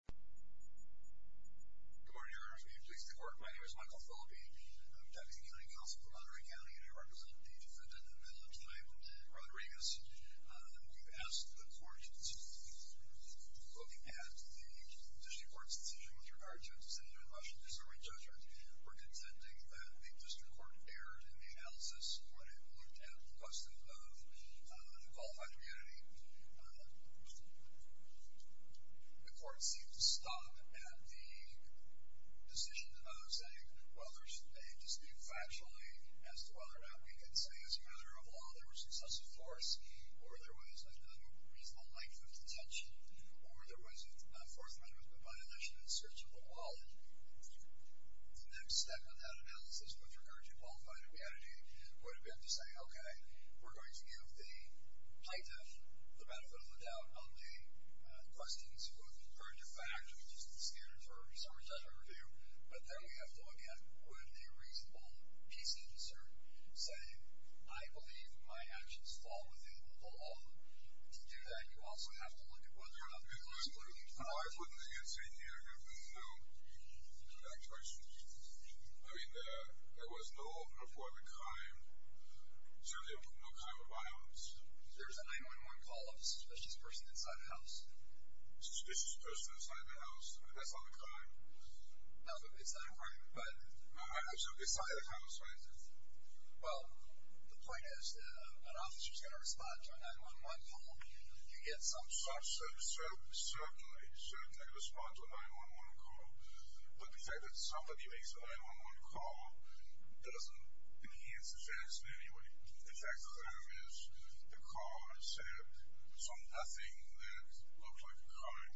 Good morning, Your Honors. May it please the Court, my name is Michael Philippi. I'm Deputy County Counsel for Monterey County and I represent the defendant, in the middle of the time, Rodriguez. We've asked the Court to look at the District Court's decision with regard to a decision in the Motion to Disseminate Judgment. We're contending that the District Court erred in the analysis when it looked at the cost of a qualified community. The Court seemed to stop at the decision of saying, well, there's a dispute factually as to whether or not we can say as a matter of law there was excessive force, or there was a reasonable length of detention, or there was a Fourth Amendment violation in search of the wallet. The next step of that analysis, with regard to qualified community, would have been to say, okay, we're going to give the plaintiff the benefit of the doubt on the questions with regard to fact, which is the standard for a research attorney review, but then we have to again, with a reasonable piece of concern, say, I believe my actions fall within the law. To do that, you also have to look at whether or not there was... No, I put an answer in here and there was no fact question. I mean, there was no report of a crime, certainly no crime or violence. There was a 9-1-1 call of a suspicious person inside a house. Suspicious person inside the house? That's not a crime. No, it's not a crime, but... Inside the house, right? Well, the point is, an officer's going to respond to a 9-1-1 call. You get some... Certainly, certainly. I could respond to a 9-1-1 call, but the fact that somebody makes a 9-1-1 call doesn't enhance the facts in any way. In fact, the crime is the caller said something that looked like a crime.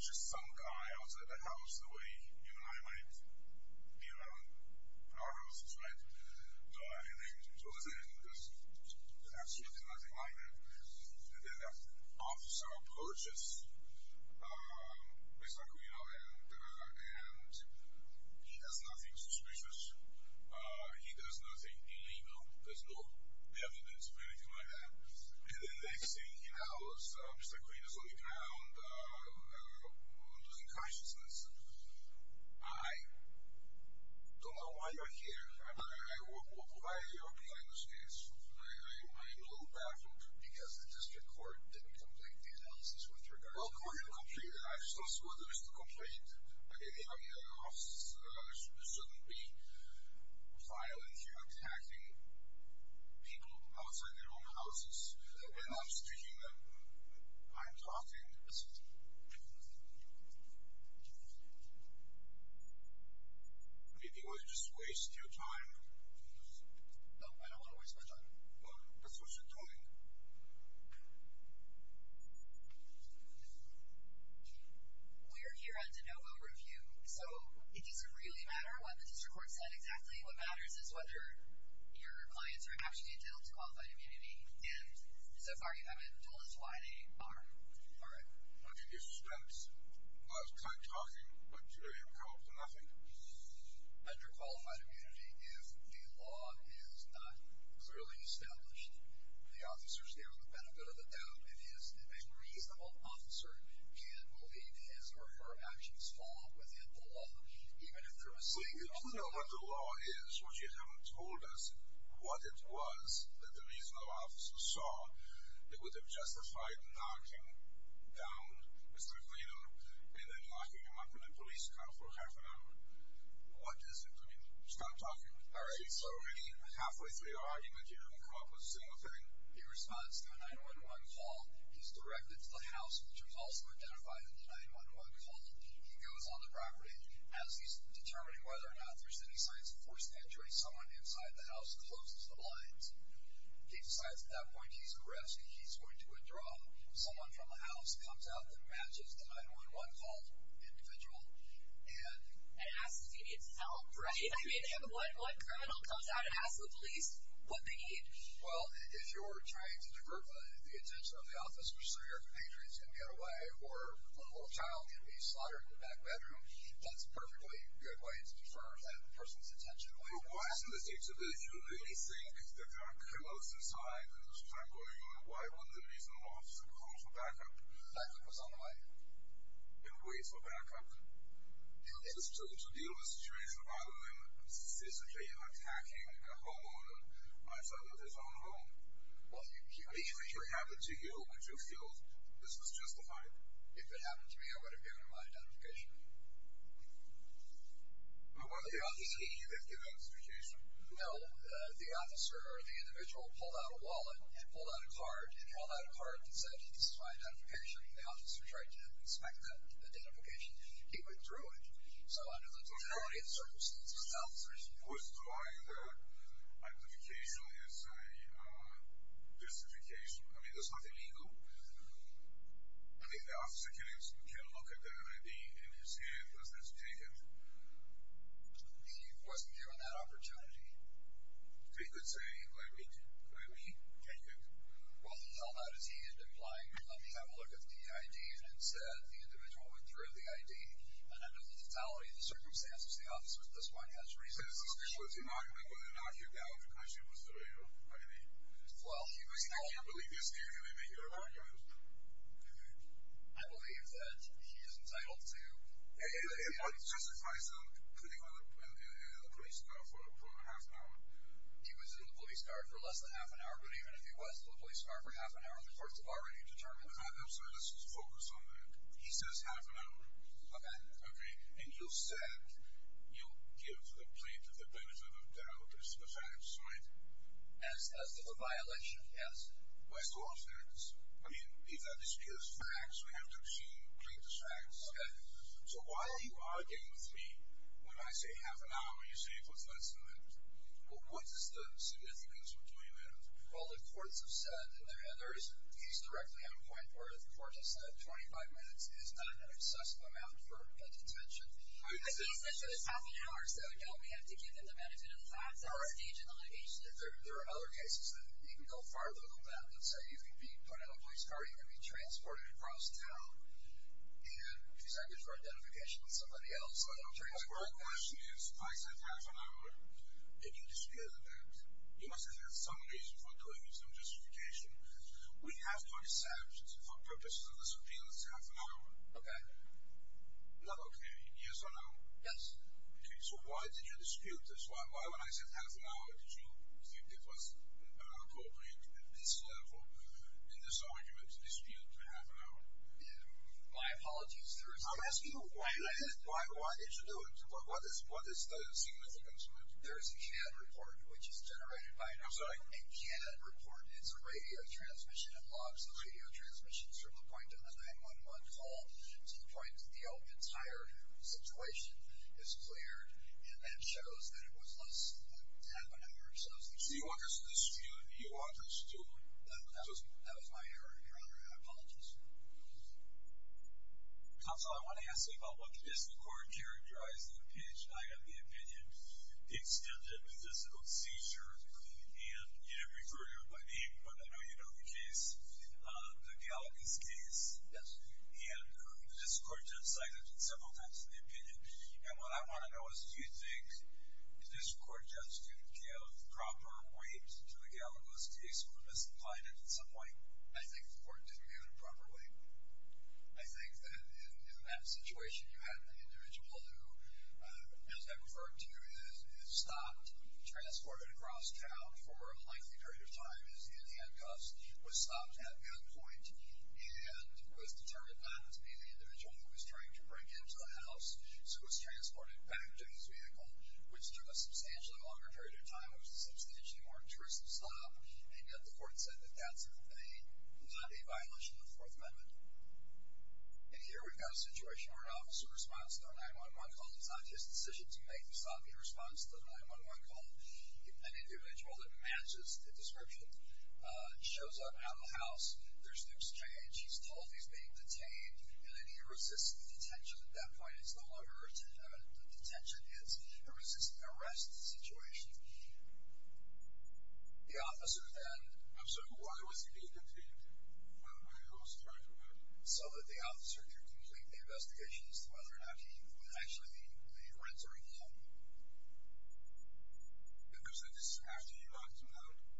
Just some guy outside the house, the way you and I might be around our houses, right? So, there's absolutely nothing like that. And then that officer approaches Mr. Aquino and he does nothing suspicious. He does nothing illegal. There's no evidence or anything like that. And the next thing he knows, Mr. Aquino's on the ground, losing consciousness. I don't know why you're here. I mean, why are you opening this case? I'm a little baffled. Because the district court didn't complete the analysis with regard to... Well, the court didn't complete it. I just don't see why there's no complaint. The idea of this shouldn't be violence. You're attacking people outside their own houses. You're not sticking them. I'm talking. Maybe you want to just waste your time. No, I don't want to waste my time. Well, that's what you're doing. We are here at DeNovo Review. So, it doesn't really matter what the district court said exactly. What matters is whether your clients are actually entitled to qualified immunity. And so far, you haven't told us why they are. All right. Under these steps, I was kind of talking, but it came up to nothing. Under qualified immunity, if the law is not clearly established, the officer is there on the benefit of the doubt. It is a reasonable officer who can believe his or her actions fall within the law. Even if there was saying that... But we don't know what the law is. What you haven't told us, what it was that the reasonable officer saw, that would have justified knocking down Mr. Clayton and then locking him up in a police car for half an hour. What is it? I mean, stop talking. All right. So, halfway through the argument, you haven't come up with a single thing? He responds to a 911 call. He's directed to the house, which was also identified in the 911 call. He goes on the property. As he's determining whether or not there's any signs of forced entry, someone inside the house closes the blinds. He decides at that point he's at risk. He's going to withdraw. Someone from the house comes out that matches the 911 call individual and... And asks if he needs help, right? I mean, what criminal comes out and asks the police what they need? Well, if you're trying to divert the attention of the officer so your compatriots can get away or a little child can be slaughtered in the back bedroom, that's a perfectly good way to defer that person's attention. But why is it that you really think that they are close inside and there's time going on? Why wouldn't the reasonable officer call for backup? Backup was on the way. And wait for backup? To deal with a situation other than physically attacking a homeowner on the outside of his own home? Well, you could... If it happened to you, would you feel this was justified? If it happened to me, I would have given him my identification. But was the officer either given his identification? No. The officer or the individual pulled out a wallet and pulled out a card and held out a card that said, This is my identification. The officer tried to inspect that identification. He withdrew it. So under the totality of circumstances, the officer is... Withdrawing the identification is a justification. I mean, there's nothing legal. I mean, the officer can look at the NID in his hand. Doesn't have to take it. He wasn't given that opportunity. He could say, let me take it. Well, how bad is he? And implying, let me have a look at the NID. And instead, the individual withdrew the ID. And under the totality of the circumstances, the officer at this point has reason to believe that. I mean, I can't believe this. I believe that he is entitled to... He was in the police car for less than half an hour. But even if he was in the police car for half an hour, the courts have already determined... I'm sorry. Let's focus on that. He says half an hour. Okay. Okay. And you said you'll give the plaintiff the benefit of doubt as to the facts, right? As to the violation, yes. As to all facts. I mean, if that is true as facts, we have to assume plaintiff's facts. Okay. So why are you arguing with me when I say half an hour and you say it was less than that? Well, what is the significance of 20 minutes? Well, the courts have said... He's directly on point where the court has said 25 minutes is not an excessive amount for a detention. But he said it was half an hour. So don't we have to give him the benefit of the facts at this stage in the litigation? There are other cases that you can go farther than that. Let's say you can be put in a police car, you can be transported across town and presented for identification with somebody else. But my question is, I said half an hour. If you dispute that, you must have had some reason for doing it, some justification. We have to accept, for purposes of this appeal, it's half an hour. Okay. Not okay. Yes or no? Yes. Okay, so why did you dispute this? Why, when I said half an hour, did you think it was appropriate at this level, in this argument, to dispute half an hour? My apologies, there is... I'm asking you, why did you do it? What is the significance of it? There is a CAD report, which is generated by... I'm sorry? A CAD report is a radio transmission that logs the radio transmissions from the point of a 911 call to the point that the entire situation is cleared and then shows that it was less than half an hour. So you want us to dispute and you want us to... That was my error, Your Honor. I apologize. Counsel, I want to ask you about the District Court characterizing the case. I got the opinion it stemmed from a physical seizure and you didn't refer to it by name, but I know you know the case, the Gallagos case. Yes. And the District Court judge cited it several times in the opinion. And what I want to know is, do you think the District Court judge didn't give proper weight to the Gallagos case or misapplied it in some way? I think the Court didn't give it a proper weight. I think that in that situation, you had an individual who, as I've referred to, is stopped, transported across town for a lengthy period of time, is in handcuffs, was stopped at gunpoint, and was determined not to be the individual who was trying to bring him to the house, so was transported back to his vehicle, which took a substantially longer period of time. It was a substantially more intrusive stop, and yet the Court said that that's not a violation of the Fourth Amendment. And here we've got a situation where an officer responds to a 911 call. It's not his decision to make the stop. He responds to the 911 call. An individual that matches the description shows up out of the house. There's an exchange. He's told he's being detained, and then he resists the detention. At that point, it's no longer a detention. It's a resisting arrest situation. The officer then... I'm sorry, why was he being detained? So that the officer could complete the investigation as to whether or not he would actually be arrested or not.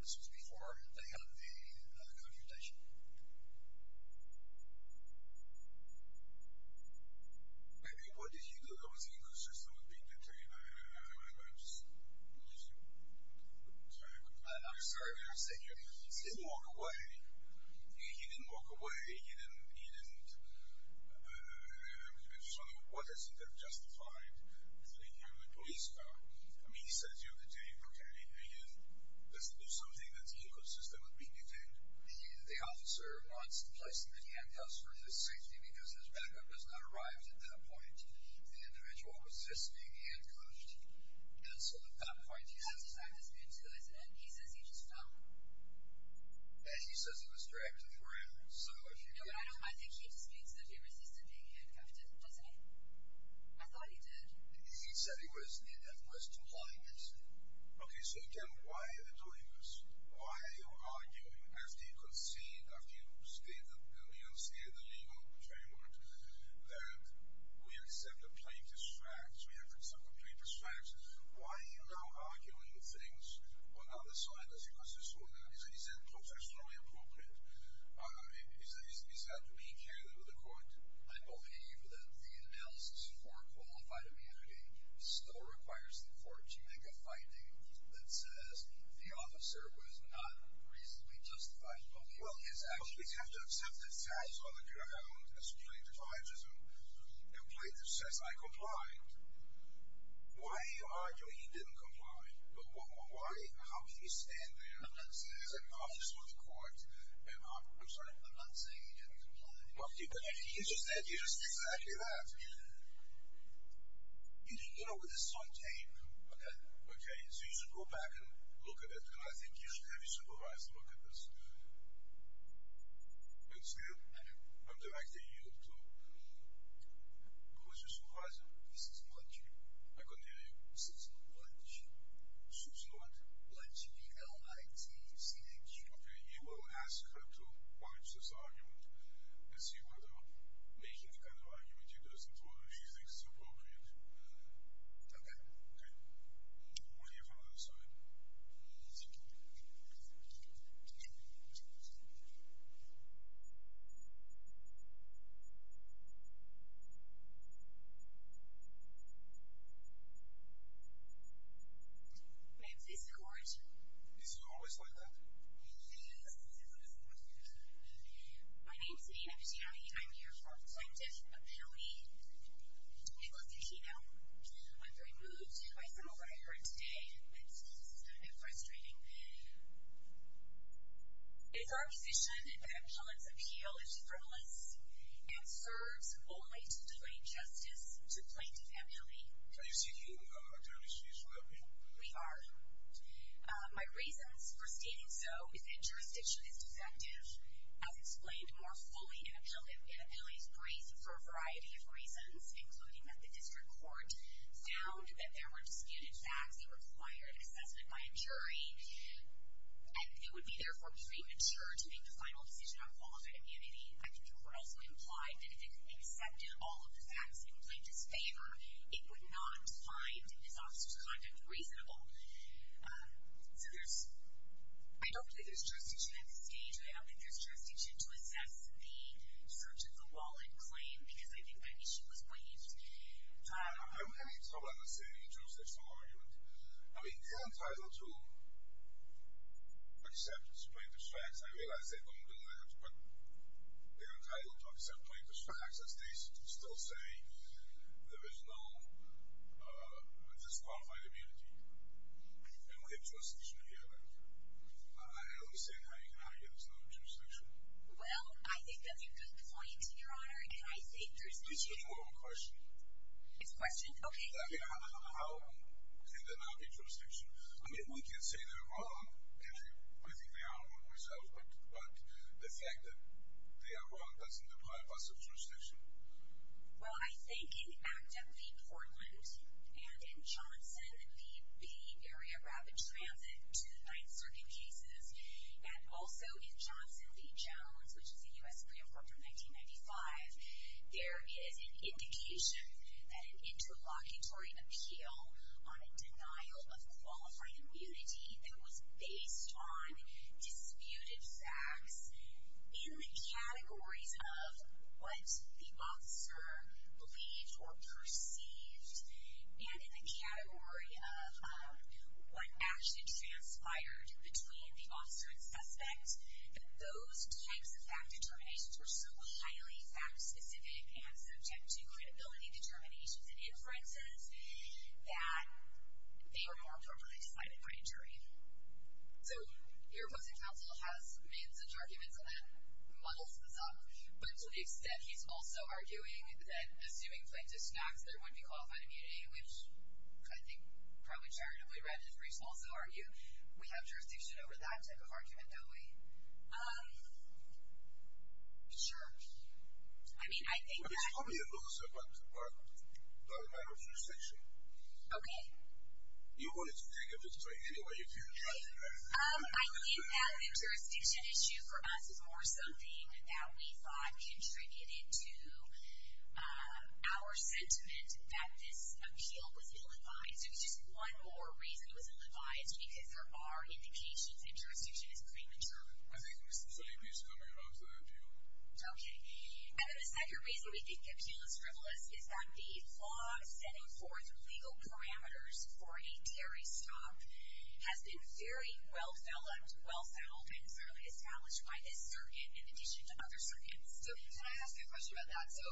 This was before they had the confrontation. I'm sorry for saying your name. He didn't walk away. He didn't walk away. He didn't... I'm just wondering, what has he done to justify leaving him in the police car? I mean, he says you're detained, OK? He doesn't do something that's inconsistent with being detained. The officer wants to place him in the handcuffs for his safety, because his backup has not arrived at that point. The individual was resisting the handcuffs, and so at that point... He says he just fell. No, but I don't... I think he disputes that he resisted being handcuffed, doesn't he? I thought he did. OK, so again, why are you doing this? Why are you arguing, after you concede, after you state the legal framework, that we accept the plaintiff's facts, we accept the plaintiff's facts? Why are you now arguing things on the other side, as he goes to sue them? Is that professionally appropriate? Is that being carried over to the court? I believe that the analysis for qualified immunity still requires the court to make a finding that says the officer was not reasonably justified in doing his actions. But we have to accept the facts on the ground as plaintiff's alleges them. The plaintiff says, I comply. Why are you arguing he didn't comply? How can you stand there, as an officer of the court, and... I'm sorry? I'm not saying he didn't comply. He just said exactly that. You know, with this tape... OK. OK, so you should go back and look at it, and I think you should have your supervisor look at this. You understand? I do. I'm directing you to... This is lunch. I couldn't hear you. This is lunch. Susan what? Lunch, B-L-I-T-C-H. OK, you will ask her to watch this argument and see whether making the kind of argument she does in court, she thinks is appropriate. OK. OK. We'll hear from the other side. My name is Lisa Gorge. Is he always like that? He is. My name is Nina Pagiani. I'm here for the Plaintiff's Appeal. It was the keynote. I'm very moved by some of what I heard today. It's kind of frustrating. It's our position that appellants' appeal is frivolous and serves only to delay justice to the Plaintiff's Appeal. Are you seeking attorney's fees for that appeal? We are. My reasons for stating so is that jurisdiction is defective. As explained more fully, an appeal is briefed for a variety of reasons, including that the district court found that there were disputed facts that required assessment by a jury and it would be, therefore, premature to make the final decision on qualified immunity. I think the court also implied that if it accepted all of the facts in Plaintiff's favor, it would not find his officer's conduct reasonable. So there's... I don't believe there's jurisdiction at this stage. I don't think there's jurisdiction to assess the search of the wallet claim because I think that issue was waived. I don't have any trouble understanding the jurisdictional argument. I mean, they're entitled to acceptance of Plaintiff's facts. I realize they don't do that, but they're entitled to accept Plaintiff's facts. As they still say, there is no disqualified immunity in the jurisdiction here. I understand how you can argue there's no jurisdiction. Well, I think that's a good point, Your Honor, and I think there's... It's a formal question. It's a question? Okay. I mean, how can there not be jurisdiction? I mean, we can say they're wrong, and I think they are wrong themselves, but the fact that they are wrong doesn't deprive us of jurisdiction. Well, I think in Acta v. Portland and in Johnson v. Area Rapid Transit to the Ninth Circuit cases and also in Johnson v. Jones, which is a U.S. pre-approved from 1995, there is an indication that an interlocutory appeal on a denial of qualifying immunity that was based on disputed facts in the categories of what the officer believed or perceived and in the category of what actually transpired between the officer and suspect, that those types of fact determinations were so highly fact-specific and subject to credibility determinations and inferences that they were more appropriately decided by a jury. So your opposing counsel has made such arguments and then muddles this up, but to the extent he's also arguing that assuming plaintiff's facts, there wouldn't be qualified immunity, which I think probably charitably read his briefs, also argue we have jurisdiction over that type of argument, don't we? Um, sure. I mean, I think that... It's probably a little separate by the magnitude of section. Okay. You wanted to pick up this point anyway, if you... Um, I think that the jurisdiction issue for us is more something that we thought contributed to our sentiment that this appeal was ill-advised. There was just one more reason it was ill-advised, because there are indications that jurisdiction is premature. I think it's the same piece coming out of the appeal. Okay. And then the second reason we think the appeal is frivolous is that the law setting forth legal parameters for a Terry stop has been very well-developed, well-founded, and fairly established by this circuit in addition to other circuits. So, can I ask a question about that? So,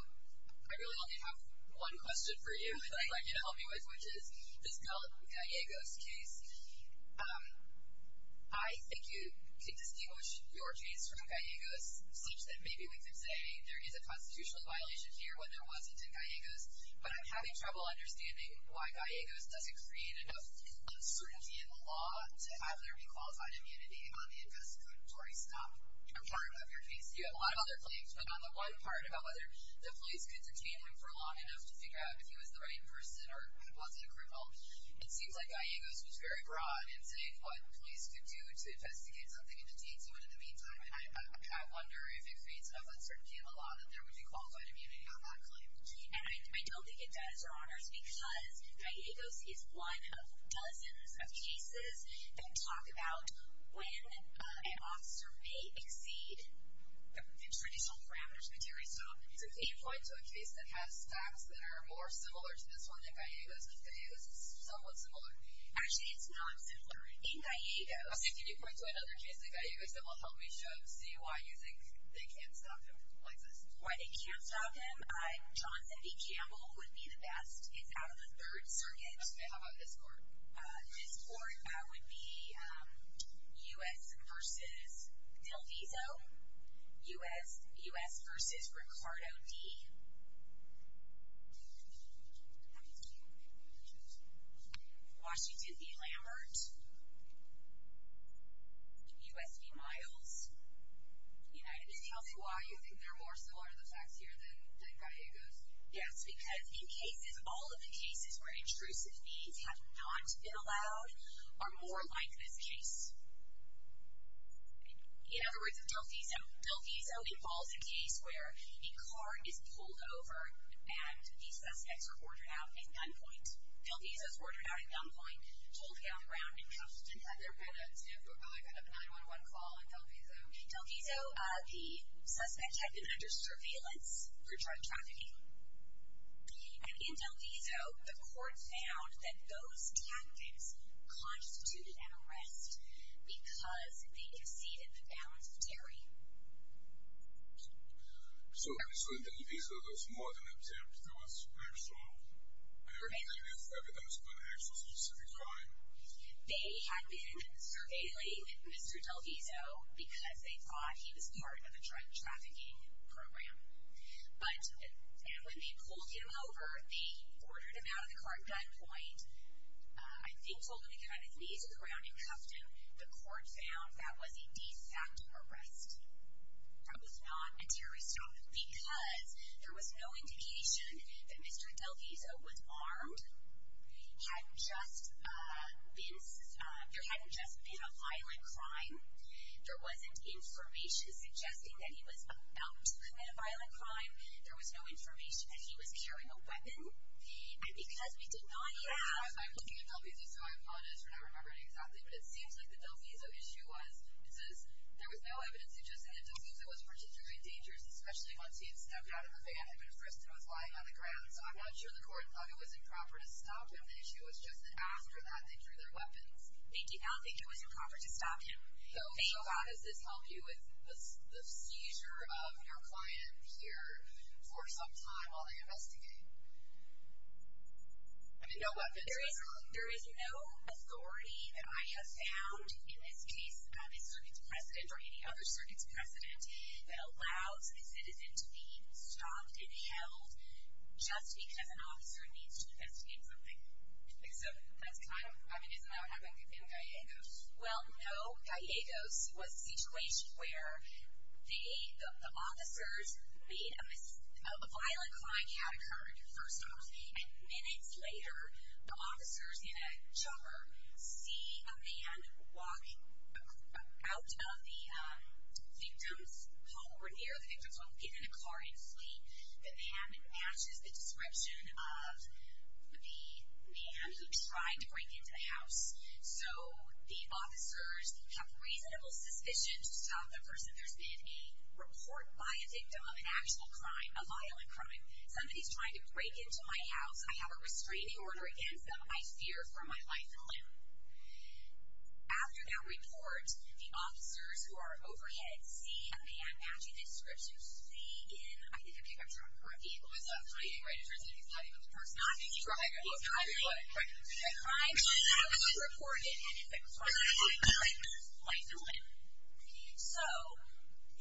I really only have one question for you that I'd like you to help me with, which is this Gallup-Gallegos case. Um, I think you could distinguish your case from Gallegos such that maybe we could say there is a constitutional violation here, when there wasn't in Gallegos, but I'm having trouble understanding why Gallegos doesn't create enough uncertainty in the law to have there be qualified immunity on the investigatory stop part of your case. You have a lot of other claims, but on the one part about whether the police could detain him for long enough to figure out if he was the right person or was it a criminal, it seems like Gallegos was very broad in saying what police could do to investigate something and detain someone in the meantime, and I wonder if it creates enough uncertainty in the law that there would be qualified immunity on that claim. And I don't think it does, Your Honors, because Gallegos is one of dozens of cases that talk about when an officer may exceed the traditional parameters of a jury stop. So, can you point to a case that has facts that are more similar to this one than Gallegos? Gallegos is somewhat similar. Actually, it's not similar. In Gallegos... Also, can you point to another case in Gallegos that will help me see why you think they can't stop him, Alexis? Why they can't stop him? Johnson v. Campbell would be the best. It's out of the Third Circuit. And how about this court? This court would be U.S. v. Del Vizo. U.S. v. Ricardo D. Washington v. Lambert. U.S. v. Miles. Can you tell me why you think they're more similar to the facts here than Gallegos? Yes, because in cases, all of the cases where intrusive means have not been allowed are more like this case. In other words, Del Vizo. Del Vizo involves a case where a car is pulled over and the suspects are ordered out at gunpoint. Del Vizo's ordered out at gunpoint, told to get off the ground. Had there been a 911 call in Del Vizo? Del Vizo, the suspects had been under surveillance for drug trafficking. And in Del Vizo, the court found that those tactics constituted an arrest because they exceeded the bounds of theory. So in Del Vizo, there was more than an attempt, there was actual evidence, evidence of an actual specific crime? They had been surveilling Mr. Del Vizo because they thought he was part of a drug trafficking program. But, and when they pulled him over, they ordered him out of the car at gunpoint. I think told him to get on his knees and the ground and cuffed him. The court found that was a de facto arrest. That was not a terrorist attack because there was no indication that Mr. Del Vizo was armed, hadn't just been, there hadn't just been a violent crime. There wasn't information suggesting that he was about to commit a violent crime. There was no information that he was carrying a weapon. And because we did not have... I'm looking at Del Vizo, so I apologize for not remembering exactly, but it seems like the Del Vizo issue was, it says, there was no evidence suggesting that Del Vizo was particularly dangerous, especially once he had stepped out of a van and been frisked and was lying on the ground. So I'm not sure the court thought it was improper to stop him, the issue was just that after that they drew their weapons. They did not think it was improper to stop him. So how does this help you with the seizure of your client here for some time while they investigate? I mean, no weapons, right? There is no authority that I have found in this case about a circuit's precedent or any other circuit's precedent that allows a citizen to be stopped and held just because an officer needs to investigate something. So that's kind of, I mean, isn't that what happened with him in Gallegos? Well, no. Gallegos was a situation where the officers made a, a violent crime had occurred, first of all, and minutes later the officers in a chopper see a man walk out of the victim's home or near the victim's home, get in a car and flee. The man matches the description of the man he tried to break into the house. So the officers have reasonable suspicion to stop the person. There's been a report by a victim of an actual crime, a violent crime. Somebody's trying to break into my house. I have a restraining order against them. I fear for my life and limb. After that report, the officers who are overhead see a man matching the description, fleeing in, I think a pickup truck, or a vehicle was driving, right? It turns out he was driving with a person on him. He was driving. The crime should not be reported. If the crime is reported, life and limb. So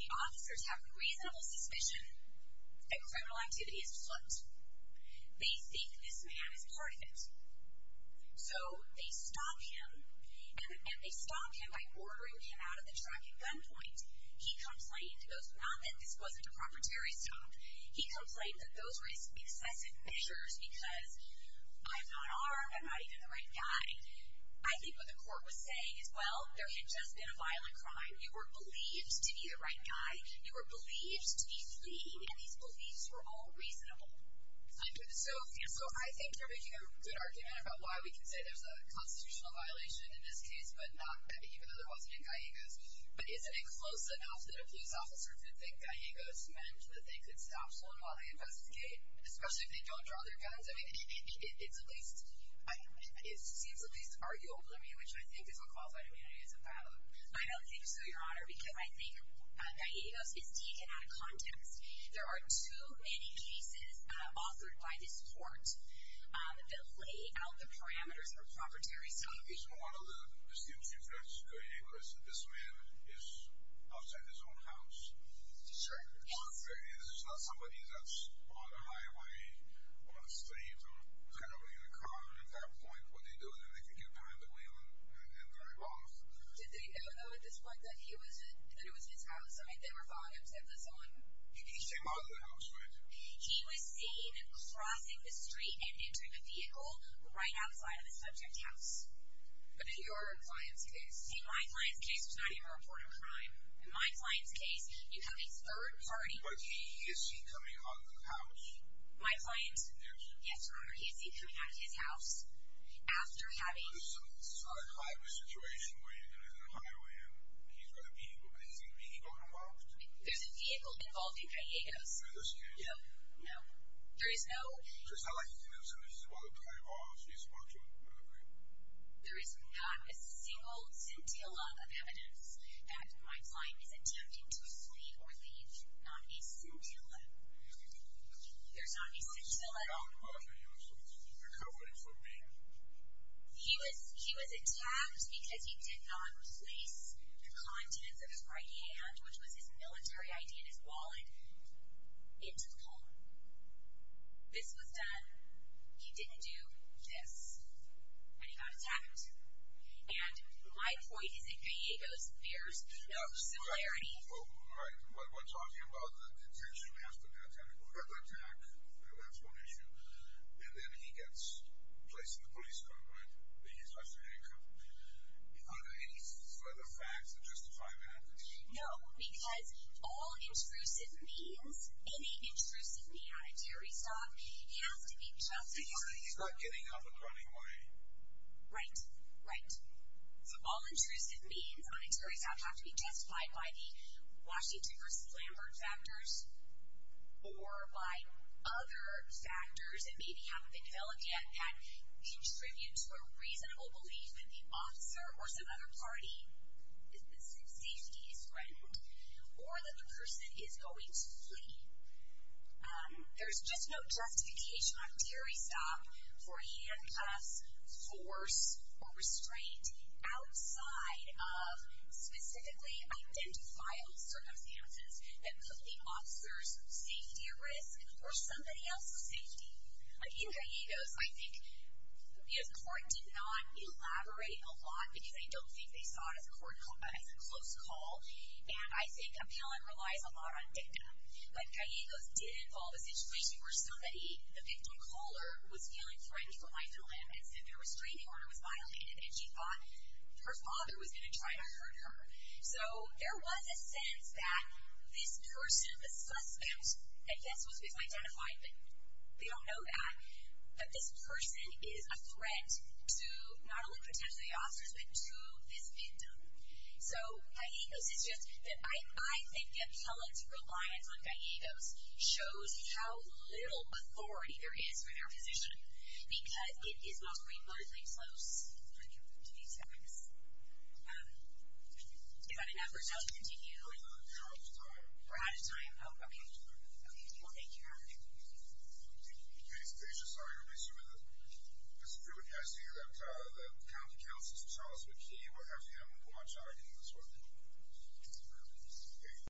the officers have reasonable suspicion that criminal activity is foot. They think this man is part of it. So they stop him, and they stop him by ordering him out of the truck at gunpoint. He complained, not that this wasn't a proprietary stop, he complained that those were excessive measures because I'm not armed, I'm not even the right guy. I think what the court was saying is, well, there had just been a violent crime. You were believed to be the right guy. You were believed to be fleeing, and these beliefs were all reasonable. So I think you're making a good argument about why we can say there's a constitutional violation in this case, but not that, even though there wasn't in Gallegos. But isn't it close enough that a police officer could think Gallegos meant that they could stop someone while they investigate, especially if they don't draw their guns? I mean, it's at least, it seems at least arguable to me, which I think is what qualified immunity is about. I don't think so, Your Honor, because I think Gallegos is deep and out of context. There are too many cases authored by this court that lay out the parameters for proprietary stopping. One of the students you've got to go to Gallegos, this man is outside his own house. There's not somebody that's on the highway, on the street, who's got nobody in the car. At that point, what do they do? Then they can get behind the wheel and drive off. Did they ever know at this point that he was in, that it was his house? I mean, they were following him to get this on? He came out of the house, right? He was seen crossing the street and entering the vehicle right outside of his subject's house. But in your client's case? In my client's case, it was not even a reported crime. In my client's case, you have a third party. But is he coming out of the house? My client? Yes. Yes, Your Honor, is he coming out of his house after having? Well, this is not a crime situation where you're going to enter a highway and he's got a vehicle, but is he legally involved? There's a vehicle involved in Gallegos. In this case? No. No. There is no? So it's not like he's innocent, and this is what the client wants you to respond to, right? There is not a single scintilla of evidence that my client is attempting to flee or leave. Not a scintilla. There's not a scintilla. He was attacked because he did not place the contents of his right hand, which was his military ID and his wallet, into the car. This was done. He didn't do this. And he got attacked. And my point is, in Gallegos, there's no similarity. All right. We're talking about the detention after the attempted murder attack. That's one issue. And then he gets placed in the police car, right? He's left in the car. Are there any further facts that justify that? No, because all intrusive means, any intrusive means, at a jury stop, he has to be justified. He's not getting up and running away. Right. Right. So all intrusive means on a jury stop have to be justified by the Washington v. Lambert factors or by other factors that maybe haven't been developed yet that contribute to a reasonable belief that the officer or some other party There's just no justification on a jury stop for handcuffs, force, or restraint outside of specifically identifiable circumstances that put the officer's safety at risk or somebody else's safety. In Gallegos, I think the court did not elaborate a lot, because I don't think they saw it as a close call. And I think appellant relies a lot on dictum. But Gallegos did involve a situation where somebody, the victim caller, was feeling threatened for life in a landmine and said their restraining order was violated, and she thought her father was going to try to hurt her. So there was a sense that this person, the suspect, I guess was misidentified, but they don't know that, that this person is a threat to not only potentially the officers, but to this victim. So Gallegos is just... I think appellant's reliance on Gallegos shows how little authority there is for their position, because it is not remotely close to these things. Do we have enough for us to continue? We're out of time. We're out of time. Oh, okay. Well, thank you very much. Thank you. Katie Spacer. Sorry to interrupt you. Mr. Pruitt, can I see that the county counsel, Mr. Charles McKee, will have him watch on any of this work? Thank you.